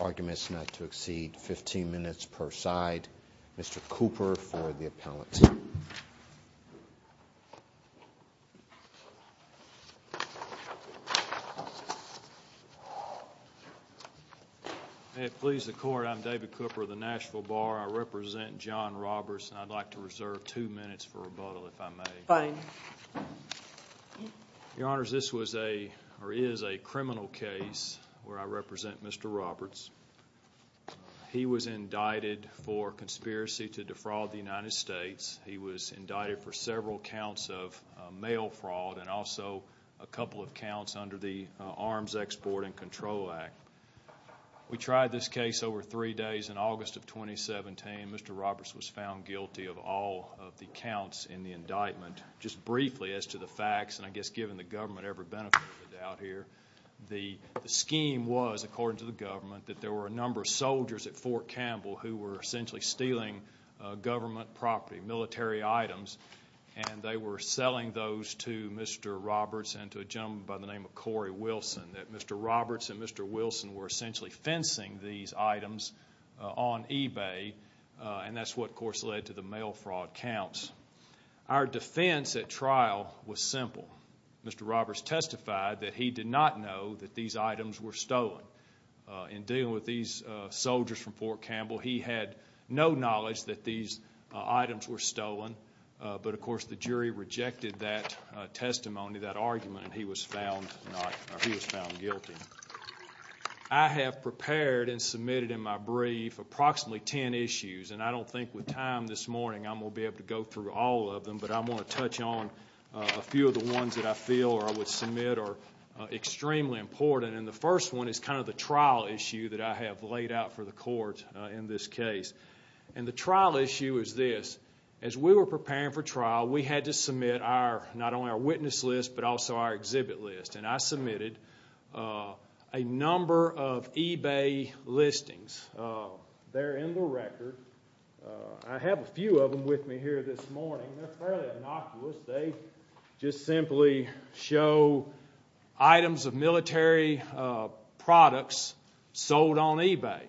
Arguments not to exceed 15 minutes per side. Mr. Cooper for the appellate. May it please the court, I'm David Cooper of the Nashville Bar. I represent John Roberts and I'd like to reserve two minutes for rebuttal if I may. Your Honor, this is a criminal case where I represent Mr. Roberts. He was indicted for conspiracy to defraud the United States. He was indicted for several counts of mail fraud and also a couple of counts under the Arms Export and Control Act. We tried this case over three days in August of 2017. Mr. Roberts was guilty of all of the counts in the indictment. Just briefly as to the facts and I guess given the government ever benefited out here, the scheme was, according to the government, that there were a number of soldiers at Fort Campbell who were essentially stealing government property, military items, and they were selling those to Mr. Roberts and to a gentleman by the name of Corey Wilson. Mr. Roberts and Mr. Wilson were essentially fencing these items on eBay and that's what of course led to the mail fraud counts. Our defense at trial was simple. Mr. Roberts testified that he did not know that these items were stolen. In dealing with these soldiers from Fort Campbell, he had no knowledge that these items were stolen, but of course the jury rejected that testimony, that argument, and he was found guilty. I have prepared and submitted in my brief approximately ten issues and I don't think with time this morning I'm going to be able to go through all of them, but I want to touch on a few of the ones that I feel or I would submit are extremely important. The first one is kind of the trial issue that I have laid out for the court in this case. The trial issue is this. As we were preparing for trial, we had to submit not only our witness list, but also our exhibit list. I submitted a number of eBay listings. They're in the record. I have a few of them with me here this morning. They're fairly innocuous. They just simply show items of military products sold on eBay.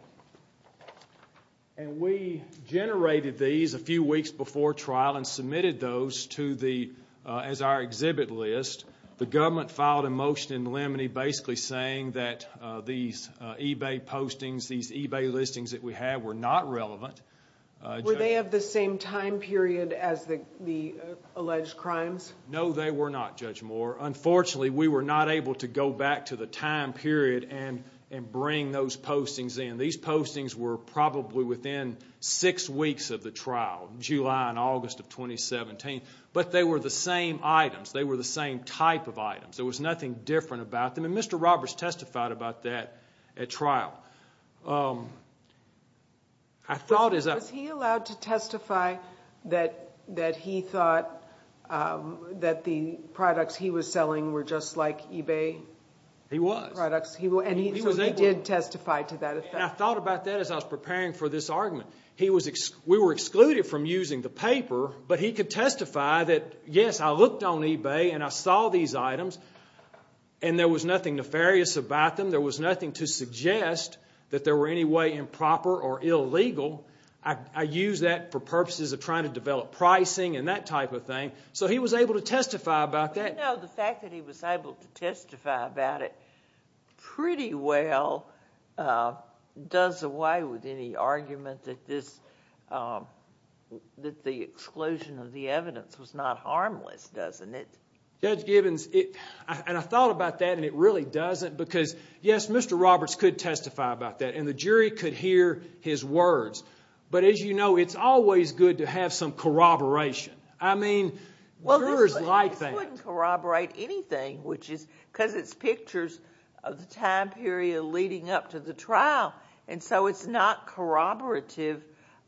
We generated these a few weeks before trial and submitted those as our exhibit list. The government filed a motion in limine basically saying that these eBay listings that we have were not relevant. Were they of the same time period as the alleged crimes? No, they were not, Judge Moore. Unfortunately, we were not able to go back to the time period and bring those postings in. These postings were probably within six weeks of the trial, July and August of 2017. They were the same items. They were the same type of items. There was nothing different about them. Mr. Roberts testified about that at trial. Was he allowed to testify that he thought that the products he was selling were just like eBay products? He was. He did testify to that effect? I thought about that as I was preparing for this argument. We were excluded from using the paper, but he could testify that, yes, I looked on eBay and I saw these items and there was nothing nefarious about them. There was nothing to suggest that they were in any way improper or illegal. I used that for purposes of trying to develop pricing and that type of thing. So he was able to testify about that. The fact that he was able to testify about it pretty well does away with any argument that the exclusion of the evidence was not harmless, doesn't it? Judge Gibbons, I thought about that and it really doesn't because, yes, Mr. Roberts could testify about that and the jury could hear his words, but as you know, it's always good to have some corroboration. I mean, jurors like that. Well, this wouldn't corroborate anything because it's pictures of the time period leading up to the trial, and so it's not corroborative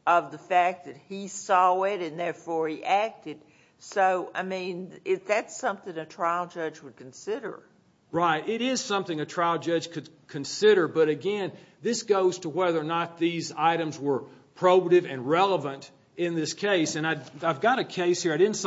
of the fact that he saw it and therefore he acted. So, I mean, that's something a trial judge would consider. Right. It is something a trial judge could consider, but again, this goes to whether or not these items were probative and relevant in this case. I've got a case here. I didn't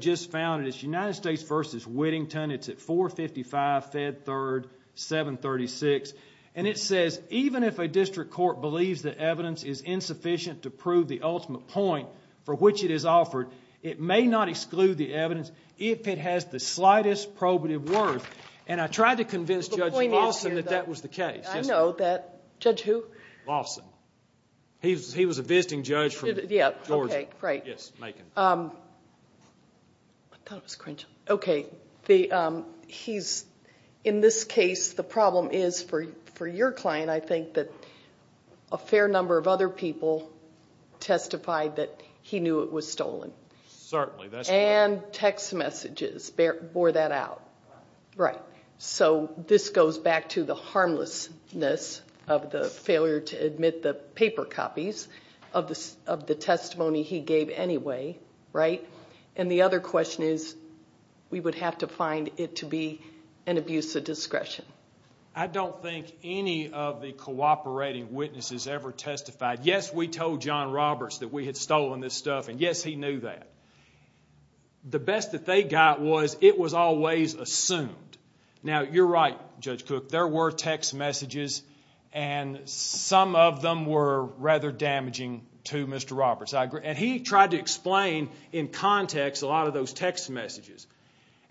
just found it. It's United States v. Whittington. It's at 455 Fed 3rd, 736, and it says, even if a district court believes that evidence is insufficient to prove the ultimate point for which it is offered, it may not exclude the evidence if it has the slightest probative worth, and I tried to convince Judge Lawson that that was the case. I know that. Judge who? Lawson. He was a visiting judge from Georgia. Okay. Right. Yes, Macon. I thought it was Crenshaw. Okay. He's, in this case, the problem is for your client, I think, that a fair number of other people testified that he knew it was stolen. Certainly. That's true. And text messages bore that out. Right. So, this goes back to the harmlessness of the paper copies of the testimony he gave anyway, right? And the other question is, we would have to find it to be an abuse of discretion. I don't think any of the cooperating witnesses ever testified, yes, we told John Roberts that we had stolen this stuff, and yes, he knew that. The best that they got was it was always assumed. Now, you're right, Judge Cook. There were text messages, and some of them were rather damaging to Mr. Roberts. And he tried to explain in context a lot of those text messages.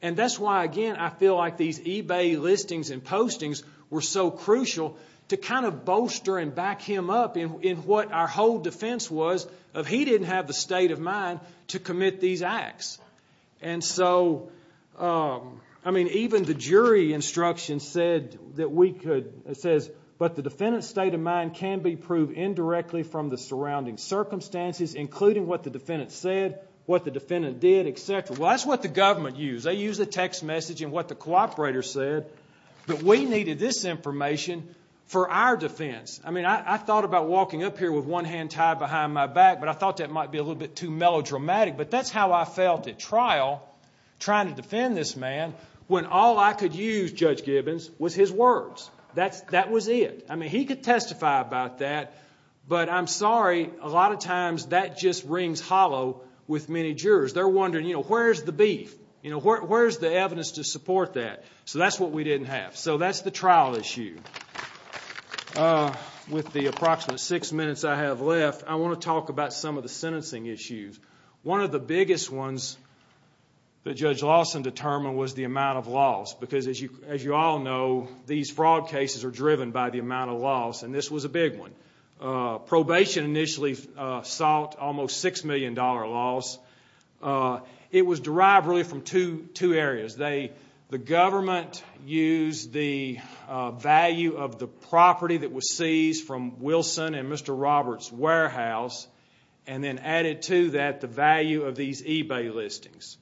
And that's why, again, I feel like these eBay listings and postings were so crucial to kind of bolster and back him up in what our whole defense was of he didn't have the state of mind to commit these acts. And so, I mean, even the jury instruction said that we could, it says, but the defendant's state of mind can be proved indirectly from the surrounding circumstances, including what the defendant said, what the defendant did, etc. Well, that's what the government used. They used the text message and what the cooperator said. But we needed this information for our defense. I mean, I thought about walking up here with one hand tied behind my back, but I thought that might be a little bit too melodramatic. But that's how I felt at trial, trying to defend this man, when all I could use, Judge Gibbons, was his words. That was it. I mean, he could testify about that, but I'm sorry, a lot of times that just rings hollow with many jurors. They're wondering, you know, where's the beef? You know, where's the evidence to support that? So that's what we didn't have. So that's the trial issue. With the approximate six minutes I have left, I want to talk about some of the sentencing issues. One of the biggest ones that Judge Lawson determined was the amount of loss, because as you all know, these fraud cases are driven by the amount of loss, and this was a big one. Probation initially sought almost $6 million loss. It was derived really from two areas. The government used the value of the property that was seized from Wilson and Mr. Roberts' warehouse, and then added to that the value of these eBay listings.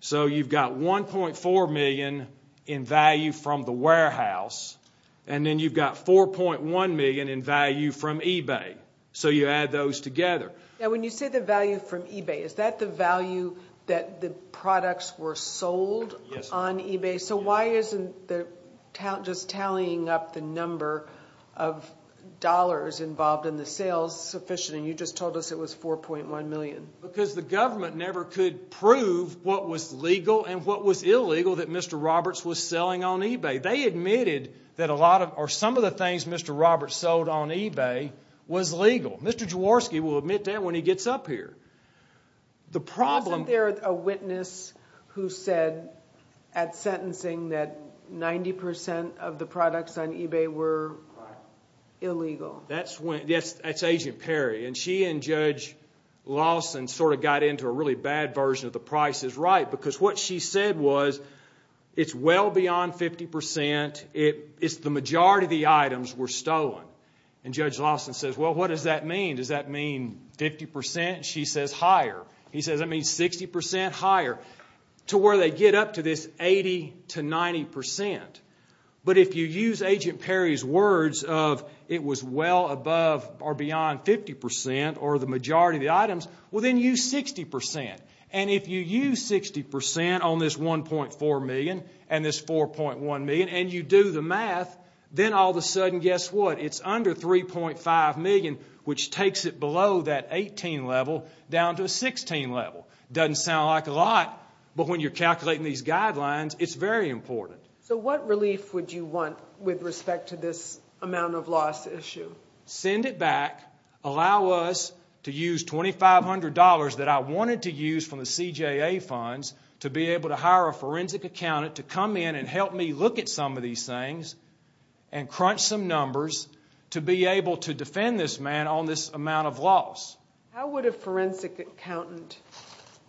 So you've got $1.4 million in value from the warehouse, and then you've got $4.1 million in value from eBay. So you add those together. Now, when you say the value from eBay, is that the value that the products were sold on eBay? So why isn't the talent just tallying up the number of dollars involved in the sales sufficient, and you just told us it was $4.1 million? Because the government never could prove what was legal and what was illegal that Mr. Roberts was selling on eBay. They admitted that a lot of, or some of the things Mr. Roberts sold on eBay was legal. Mr. Jaworski will admit that when he gets up here. The problem- Wasn't there a witness who said at sentencing that 90% of the products on eBay were illegal? No. That's Agent Perry, and she and Judge Lawson sort of got into a really bad version of the price is right, because what she said was, it's well beyond 50%. It's the majority of the items were stolen. And Judge Lawson says, well, what does that mean? Does that mean 50%? She says, higher. He says, that means 60% higher, to where they get up to this 80 to 90%. But if you use Agent Perry's words of, it was well above or beyond 50% or the majority of the items, well then use 60%. And if you use 60% on this $1.4 million and this $4.1 million, and you do the math, then all of a sudden, guess what? It's under $3.5 million, which takes it below that 18 level, down to a 16 level. Doesn't sound like a lot, but when you're calculating these guidelines, it's very important. So what relief would you want with respect to this amount of loss issue? Send it back. Allow us to use $2,500 that I wanted to use from the CJA funds to be able to hire a forensic accountant to come in and help me look at some of these things and crunch some numbers to be able to defend this man on this amount of loss. How would a forensic accountant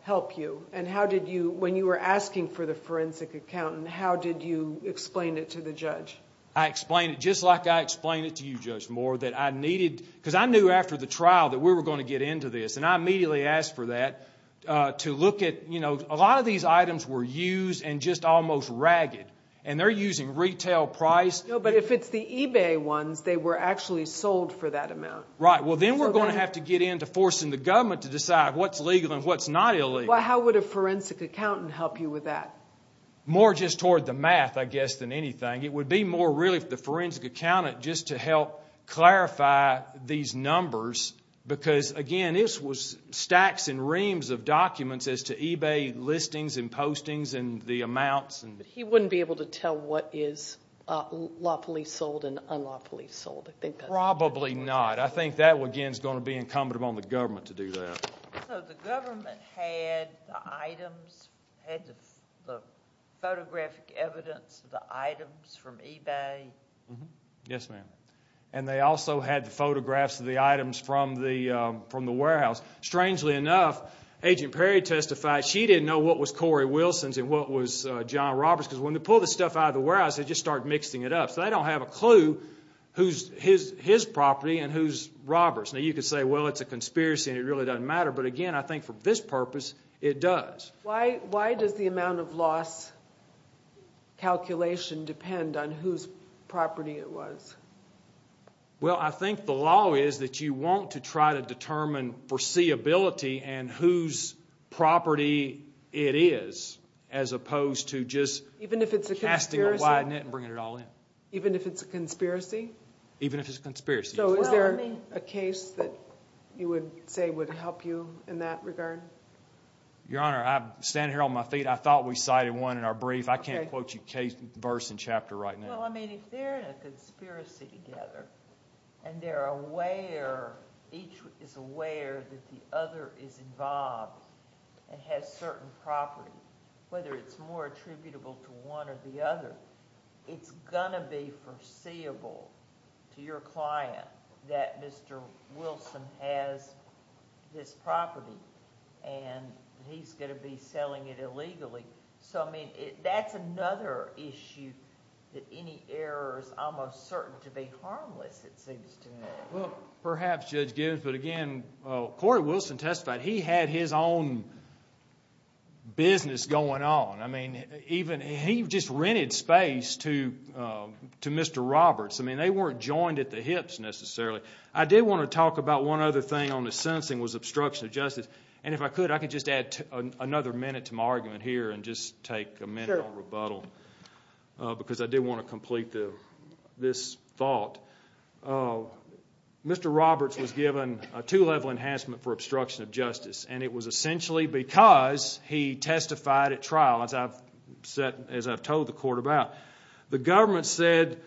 help you? And how did you, when you were asking for the forensic accountant, how did you explain it to the judge? I explained it just like I explained it to you, Judge Moore, that I needed, because I knew after the trial that we were going to get into this. And I immediately asked for that to look at, you know, a lot of these items were used and just almost ragged. And they're using retail price. No, but if it's the eBay ones, they were actually sold for that amount. Right. Well, then we're going to have to get into forcing the government to decide what's legal and what's not illegal. How would a forensic accountant help you with that? More just toward the math, I guess, than anything. It would be more really for the forensic accountant just to help clarify these numbers. Because, again, this was stacks and reams of documents as to eBay listings and postings and the amounts. He wouldn't be able to tell what is lawfully sold and unlawfully sold, I think. Probably not. I think that, again, is going to be incumbent upon the government to do that. So the government had the items, had the photographic evidence of the items from eBay? Yes, ma'am. And they also had the photographs of the items from the warehouse. Strangely enough, Agent Perry testified she didn't know what was Corey Wilson's and what was John Roberts', because when they pull the stuff out of the warehouse, they just start mixing it up. So they don't have a clue who's his property and who's Roberts'. Now, you could say, well, it's a conspiracy and it really doesn't matter. But, again, I think for this purpose, it does. Why does the amount of loss calculation depend on whose property it was? Well, I think the law is that you want to try to determine foreseeability and whose property it is, as opposed to just casting a wide net and bringing it all in. Even if it's a conspiracy? Even if it's a conspiracy. So is there a case that you would say would help you in that regard? Your Honor, I'm standing here on my feet. I thought we cited one in our brief. I can't quote you verse and chapter right now. Well, I mean, if they're in a conspiracy together and they're aware, each is aware that the other is involved and has certain property, whether it's more attributable to one or the other, it's not going to be foreseeable to your client that Mr. Wilson has this property and he's going to be selling it illegally. So, I mean, that's another issue that any error is almost certain to be harmless, it seems to me. Well, perhaps, Judge Givens. But, again, Corey Wilson testified. He had his own business going on. I mean, he just rented space to Mr. Roberts. I mean, they weren't joined at the hips, necessarily. I did want to talk about one other thing on the sentencing was obstruction of justice. And if I could, I could just add another minute to my argument here and just take a minute on rebuttal, because I did want to complete this thought. Mr. Roberts was given a two-level enhancement for obstruction of justice, and it was essentially because he testified at trial, as I've said, as I've told the court about. The government said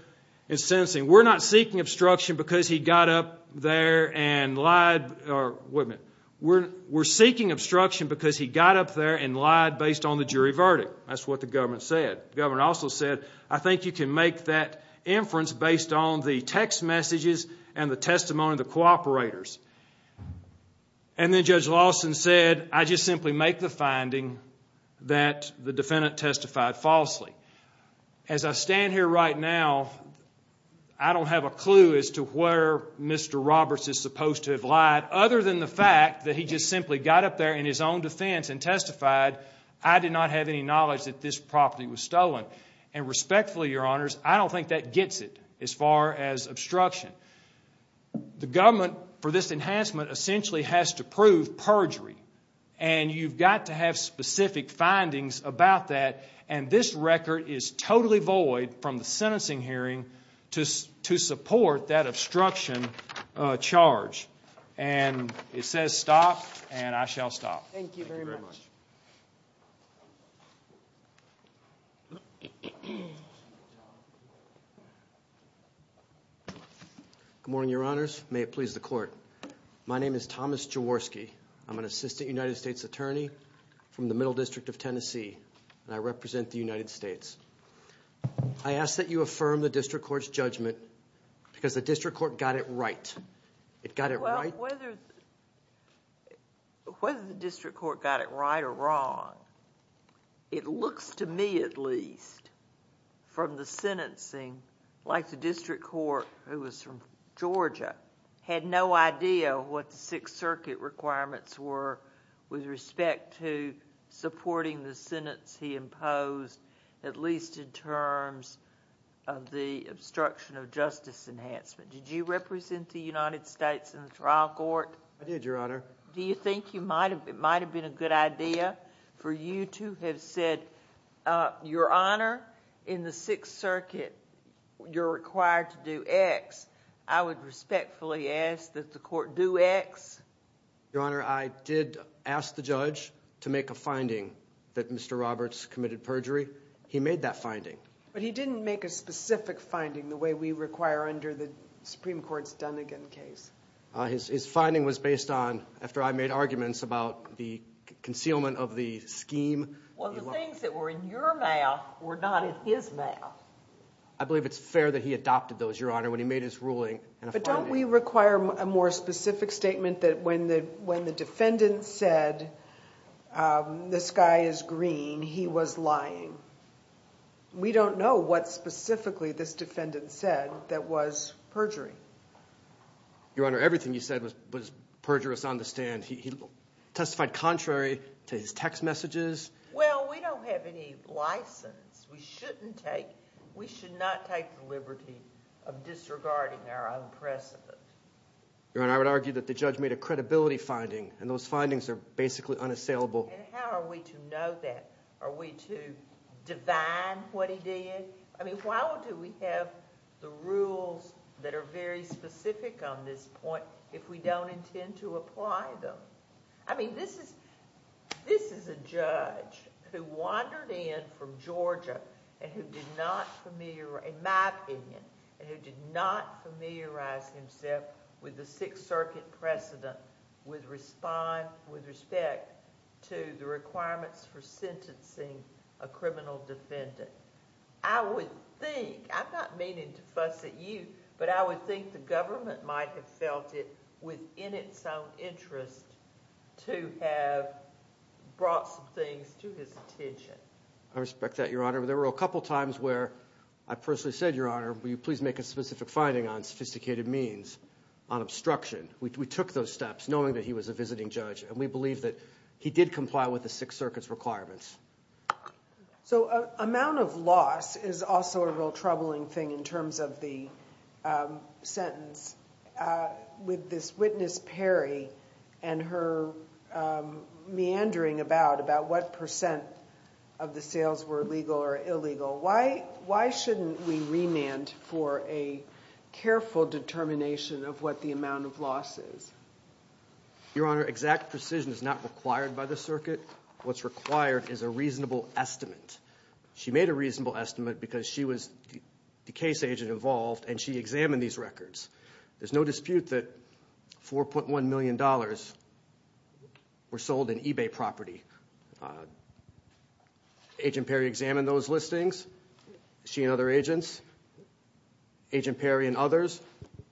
in sentencing, we're not seeking obstruction because he got up there and lied, or, wait a minute, we're seeking obstruction because he got up there and lied based on the jury verdict. That's what the government said. The government also said, I think you can make that inference based on the text messages and the testimony of the cooperators. And then Judge Lawson said, I just simply make the finding that the defendant testified falsely. As I stand here right now, I don't have a clue as to where Mr. Roberts is supposed to have lied, other than the fact that he just simply got up there in his own defense and testified, I did not have any knowledge that this property was stolen. And respectfully, Your Honors, I don't think that gets it, as far as obstruction. The government, for this enhancement, essentially has to prove perjury, and you've got to have specific findings about that, and this record is totally void from the sentencing hearing to support that obstruction charge. And it says stop, and I shall stop. Thank you very much. Good morning, Your Honors. May it please the Court. My name is Thomas Jaworski. I'm an Assistant United States Attorney from the Middle District of Tennessee, and I represent the United States. I ask that you affirm the District Court's judgment, because the District Court got it right. It got it right... Well, whether the District Court got it right or wrong, it looks to me, at least, from the sentencing, like the District Court, who was from Georgia, had no idea what the Sixth Circuit requirements were with respect to supporting the sentence he imposed, at least in terms of the obstruction of justice enhancement. Did you represent the United States in the trial court? I did, Your Honor. Do you think it might have been a good idea for you to have said, Your Honor, in the Sixth Circuit, you're required to do X. I would respectfully ask that the Court do X. Your Honor, I did ask the judge to make a finding that Mr. Roberts committed perjury. He made that finding. But he didn't make a specific finding the way we require under the Supreme Court's Dunnigan case. His finding was based on, after I made arguments about the concealment of the scheme... I believe it's fair that he adopted those, Your Honor, when he made his ruling in a finding. But don't we require a more specific statement that when the defendant said, this guy is green, he was lying? We don't know what specifically this defendant said that was perjury. Your Honor, everything you said was perjurous on the stand. He testified contrary to his text messages. Well, we don't have any license. We shouldn't take... we should not take the liberty of disregarding our own precedent. Your Honor, I would argue that the judge made a credibility finding, and those findings are basically unassailable. And how are we to know that? Are we to divine what he did? I mean, why do we have the rules that are very specific on this point if we don't intend to apply them? I mean, this is a judge who wandered in from Georgia and who did not familiarize... in my opinion, and who did not familiarize himself with the Sixth Circuit precedent with respect to the requirements for sentencing a criminal defendant. I would think... I'm not meaning to fuss at you, but I would think the government might have felt it within its own interest to have brought some things to his attention. I respect that, Your Honor. There were a couple times where I personally said, Your Honor, will you please make a specific finding on sophisticated means, on obstruction. We took those steps knowing that he was a visiting judge, and we believe that he did comply with the Sixth Circuit's requirements. So, amount of loss is also a real troubling thing in terms of the sentence. With this witness Perry and her meandering about what percent of the sales were legal or illegal, why shouldn't we remand for a careful determination of what the amount of loss is? Your Honor, exact precision is not required by the circuit. What's required is a reasonable estimate. She made a reasonable estimate because she was the case agent involved and she examined these records. There's no dispute that $4.1 million were sold in eBay property. Agent Perry examined those listings. She and other agents, Agent Perry and others,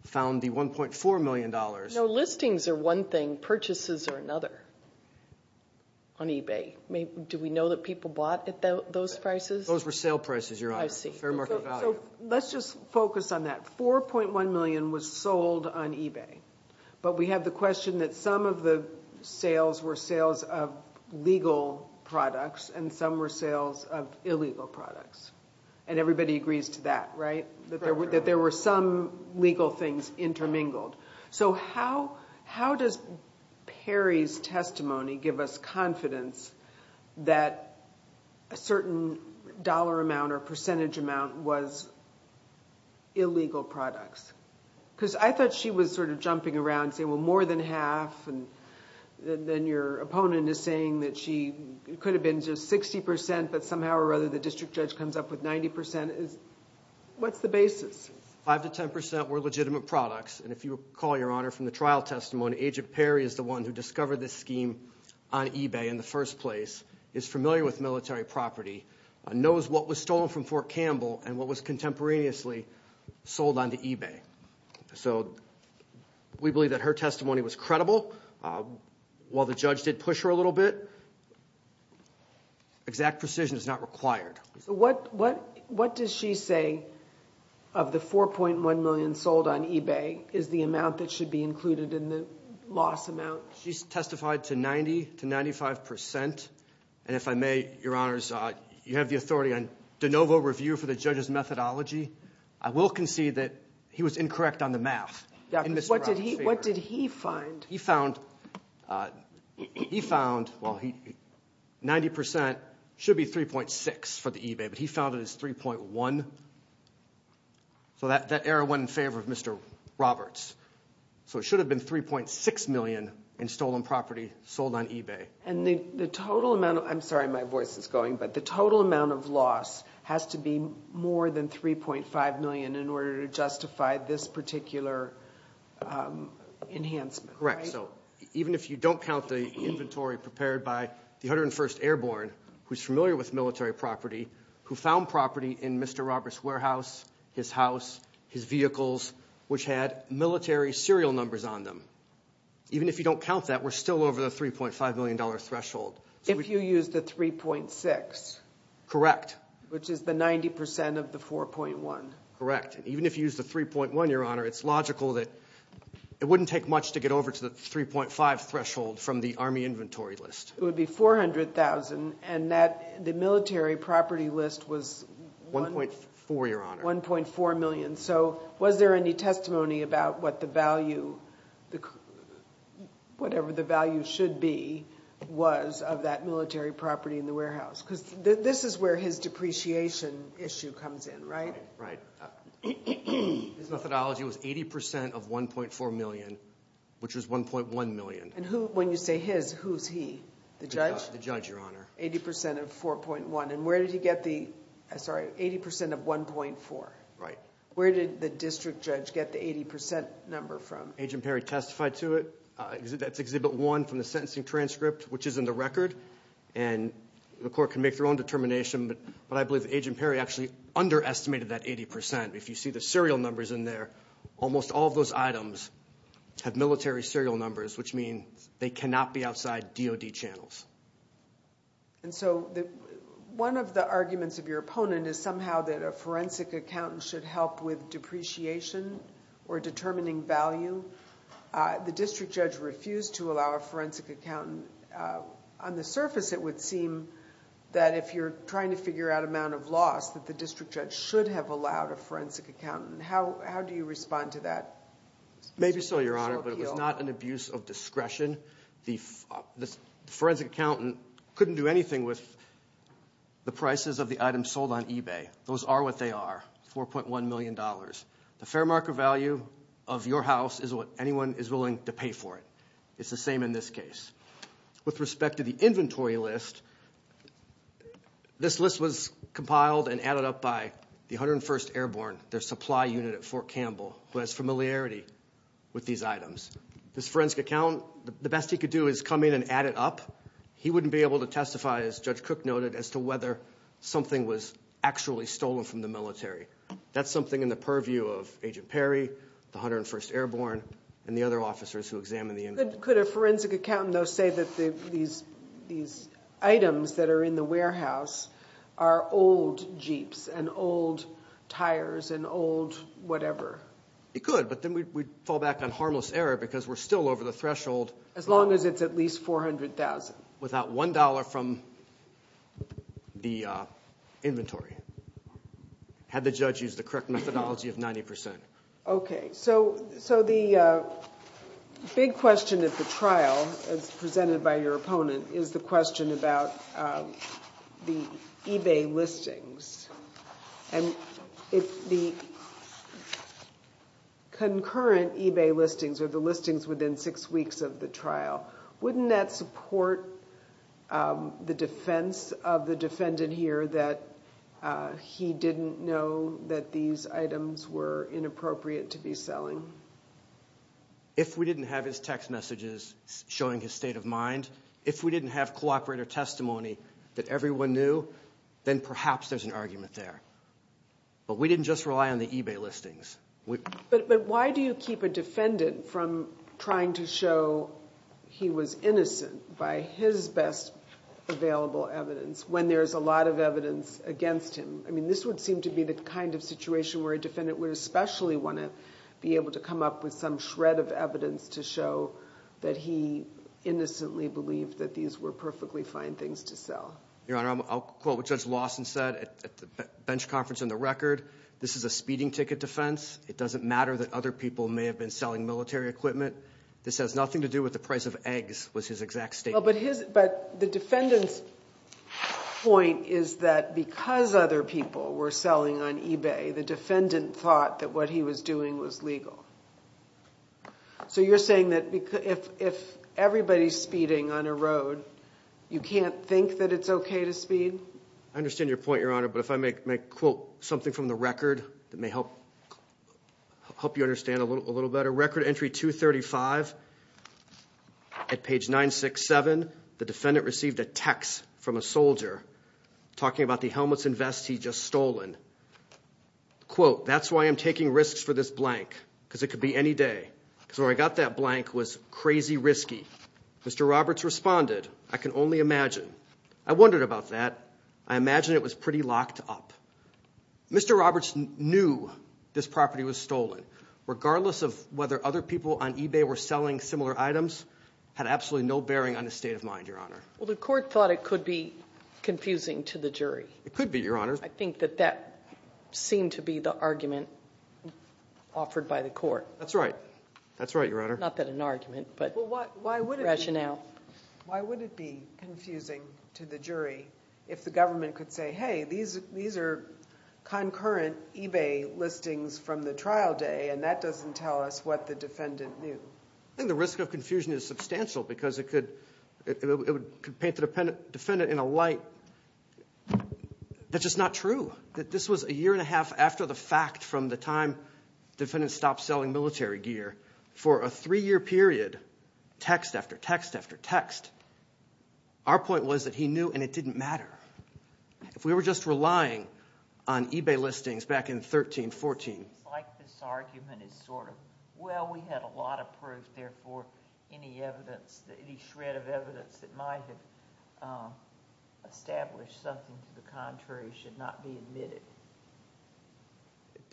found the $1.4 million. No, listings are one thing. Purchases are another on eBay. Do we know that people bought at those prices? Those were sale prices, Your Honor. I see. Fair market value. Let's just focus on that. $4.1 million was sold on eBay, but we have the question that some of the sales were sales of legal products and some were sales of illegal products. And so how does Perry's testimony give us confidence that a certain dollar amount or percentage amount was illegal products? Because I thought she was sort of jumping around saying, well, more than half and then your opponent is saying that she could have been just 60% but somehow or other the district judge comes up with 90%. What's the basis? 5 to 10% were legitimate products. And if you recall, Your Honor, from the trial testimony, Agent Perry is the one who discovered this scheme on eBay in the first place, is familiar with military property, knows what was stolen from Fort Campbell and what was contemporaneously sold onto eBay. So we believe that her testimony was credible. While the judge did push her a little bit, exact precision is not required. So what does she say of the $4.1 million sold on eBay is the amount that should be included in the loss amount? She's testified to 90 to 95%. And if I may, Your Honors, you have the authority on de novo review for the judge's methodology. I will concede that he was incorrect on the math in Mr. Rock's favor. What did he find? He found 90% should be 3.6 for the eBay, but he found it as 3.1. So that error went in favor of Mr. Roberts. So it should have been 3.6 million in stolen property sold on eBay. And the total amount of, I'm sorry my voice is going, but the total amount of loss has to be more than 3.5 million in order to justify this particular enhancement. Correct. So even if you don't count the inventory prepared by the 101st Airborne, who's familiar with military property, who found property in Mr. Roberts' warehouse, his house, his vehicles, which had military serial numbers on them. Even if you don't count that, we're still over the $3.5 million threshold. If you use the 3.6. Correct. Which is the 90% of the 4.1. Correct. And even if you use the 3.1, Your Honor, it's logical that it wouldn't take much to get over to the 3.5 threshold from the Army inventory list. It would be $400,000, and the military property list was 1.4 million. So was there any testimony about what the value, whatever the value should be, was of that military property in the warehouse? Because this is where his depreciation issue comes in, right? Right. His methodology was 80% of 1.4 million, which was 1.1 million. When you say his, who's he? The judge? The judge, Your Honor. 80% of 4.1. And where did he get the, sorry, 80% of 1.4? Right. Where did the district judge get the 80% number from? Agent Perry testified to it. That's Exhibit 1 from the sentencing transcript, which is in the record, and the court can make their own determination, but I believe that Agent Perry testified to that 80%. If you see the serial numbers in there, almost all of those items have military serial numbers, which means they cannot be outside DOD channels. And so one of the arguments of your opponent is somehow that a forensic accountant should help with depreciation or determining value. The district judge refused to allow a forensic accountant. On the surface, it would seem that if you're trying to figure out amount of loss, that the district judge should have allowed a forensic accountant. How do you respond to that? Maybe so, Your Honor, but it was not an abuse of discretion. The forensic accountant couldn't do anything with the prices of the items sold on eBay. Those are what they are, $4.1 million. The fair market value of your house is what anyone is willing to pay for it. It's the items piled and added up by the 101st Airborne, their supply unit at Fort Campbell, who has familiarity with these items. This forensic accountant, the best he could do is come in and add it up. He wouldn't be able to testify, as Judge Cook noted, as to whether something was actually stolen from the military. That's something in the purview of Agent Perry, the 101st Airborne, and the other officers who examined the inventory. Could a forensic accountant, though, say that these items that are in the warehouse are old Jeeps, and old tires, and old whatever? He could, but then we'd fall back on harmless error, because we're still over the threshold... As long as it's at least $400,000. Without $1 from the inventory, had the judge used the correct methodology of 90%. Okay, so the big question at the trial, as presented by your opponent, is the question about the eBay listings. The concurrent eBay listings are the listings within six weeks of the trial. Wouldn't that support the defense of the defendant here that he didn't know that these items were inappropriate to be selling? If we didn't have his text messages showing his state of mind, if we didn't have cooperator testimony that everyone knew, then perhaps there's an argument there. But we didn't just rely on the eBay listings. Why do you keep a defendant from trying to show he was innocent by his best available evidence when there's a lot of evidence against him? I mean, this would seem to be the kind of situation where a defendant would especially want to be able to come up with some shred of evidence to show that he innocently believed that these were perfectly fine things to sell. Your Honor, I'll quote what Judge Lawson said at the bench conference on the record. This is a speeding ticket defense. It doesn't matter that other people may have been selling military equipment. This has nothing to do with the price of eggs, was his exact statement. But the defendant's point is that because other people were selling on eBay, the defendant thought that what he was doing was legal. So you're saying that if everybody's speeding on a road, you can't think that it's okay to speed? I understand your point, Your Honor, but if I may quote something from the record that happened, the defendant received a text from a soldier talking about the helmets and vests he'd just stolen. Quote, that's why I'm taking risks for this blank, because it could be any day. Because where I got that blank was crazy risky. Mr. Roberts responded, I can only imagine. I wondered about that. I imagine it was pretty locked up. Mr. Roberts knew this property was stolen. Regardless of whether other people on eBay were selling similar items, had absolutely no bearing on his state of mind, Your Honor. Well, the court thought it could be confusing to the jury. It could be, Your Honor. I think that that seemed to be the argument offered by the court. That's right. That's right, Your Honor. Not that an argument, but rationale. Why would it be confusing to the jury if the government could say, hey, these are concurrent eBay listings from the trial day, and that doesn't tell us what the defendant knew? I think the risk of confusion is substantial, because it could paint the defendant in a light that's just not true. That this was a year and a half after the fact from the time the defendant stopped selling military gear for a three-year period, text after text after text. Our point was that he knew, and it didn't matter. If we were just relying on eBay listings back in 13, 14... I think it's like this argument is sort of, well, we had a lot of proof, therefore, any shred of evidence that might have established something to the contrary should not be admitted.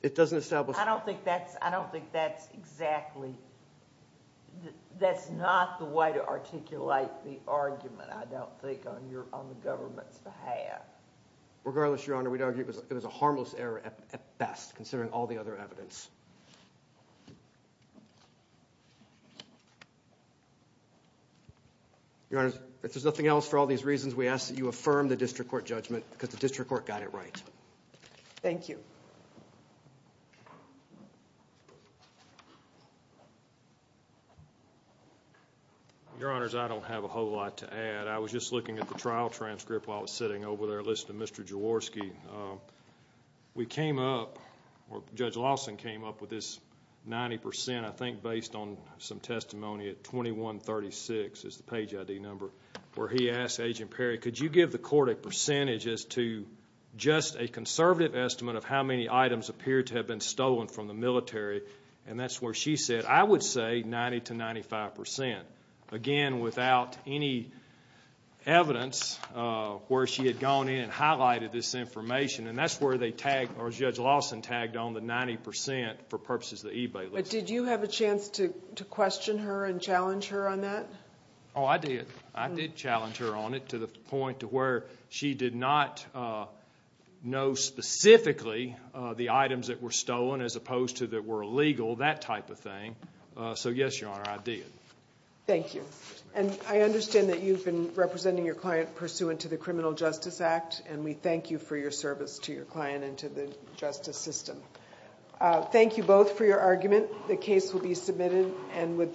It doesn't establish... I don't think that's exactly... That's not the way to articulate the argument, I don't think, on the government's behalf. Regardless, Your Honor, we'd argue it was a harmless error at best, considering all the other evidence. Your Honor, if there's nothing else, for all these reasons, we ask that you affirm the district court judgment, because the district court got it right. Thank you. Your Honors, I don't have a whole lot to add. I was just looking at the trial transcript while I was sitting over there listening to Mr. Jaworski. We came up, or Judge Lawson came up with this 90%, I think based on some testimony at 2136 is the page ID number, where he asked Agent Perry, could you give the court a percentage as to just a conservative estimate of how many items appeared to have been stolen from the military? That's where she said, I would say 90 to 95%. Again, without any evidence, where she had gone in and highlighted this information, and that's where Judge Lawson tagged on the 90% for purposes of the eBay list. But did you have a chance to question her and challenge her on that? Oh, I did. I did challenge her on it to the point to where she did not know specifically the items that were stolen, as opposed to that were illegal, that type of thing. So yes, Your Honor, I did. Thank you. And I understand that you've been representing your client pursuant to the Criminal Justice Act, and we thank you for your service to your client and to the justice system. Thank you both for your argument. The case will be submitted.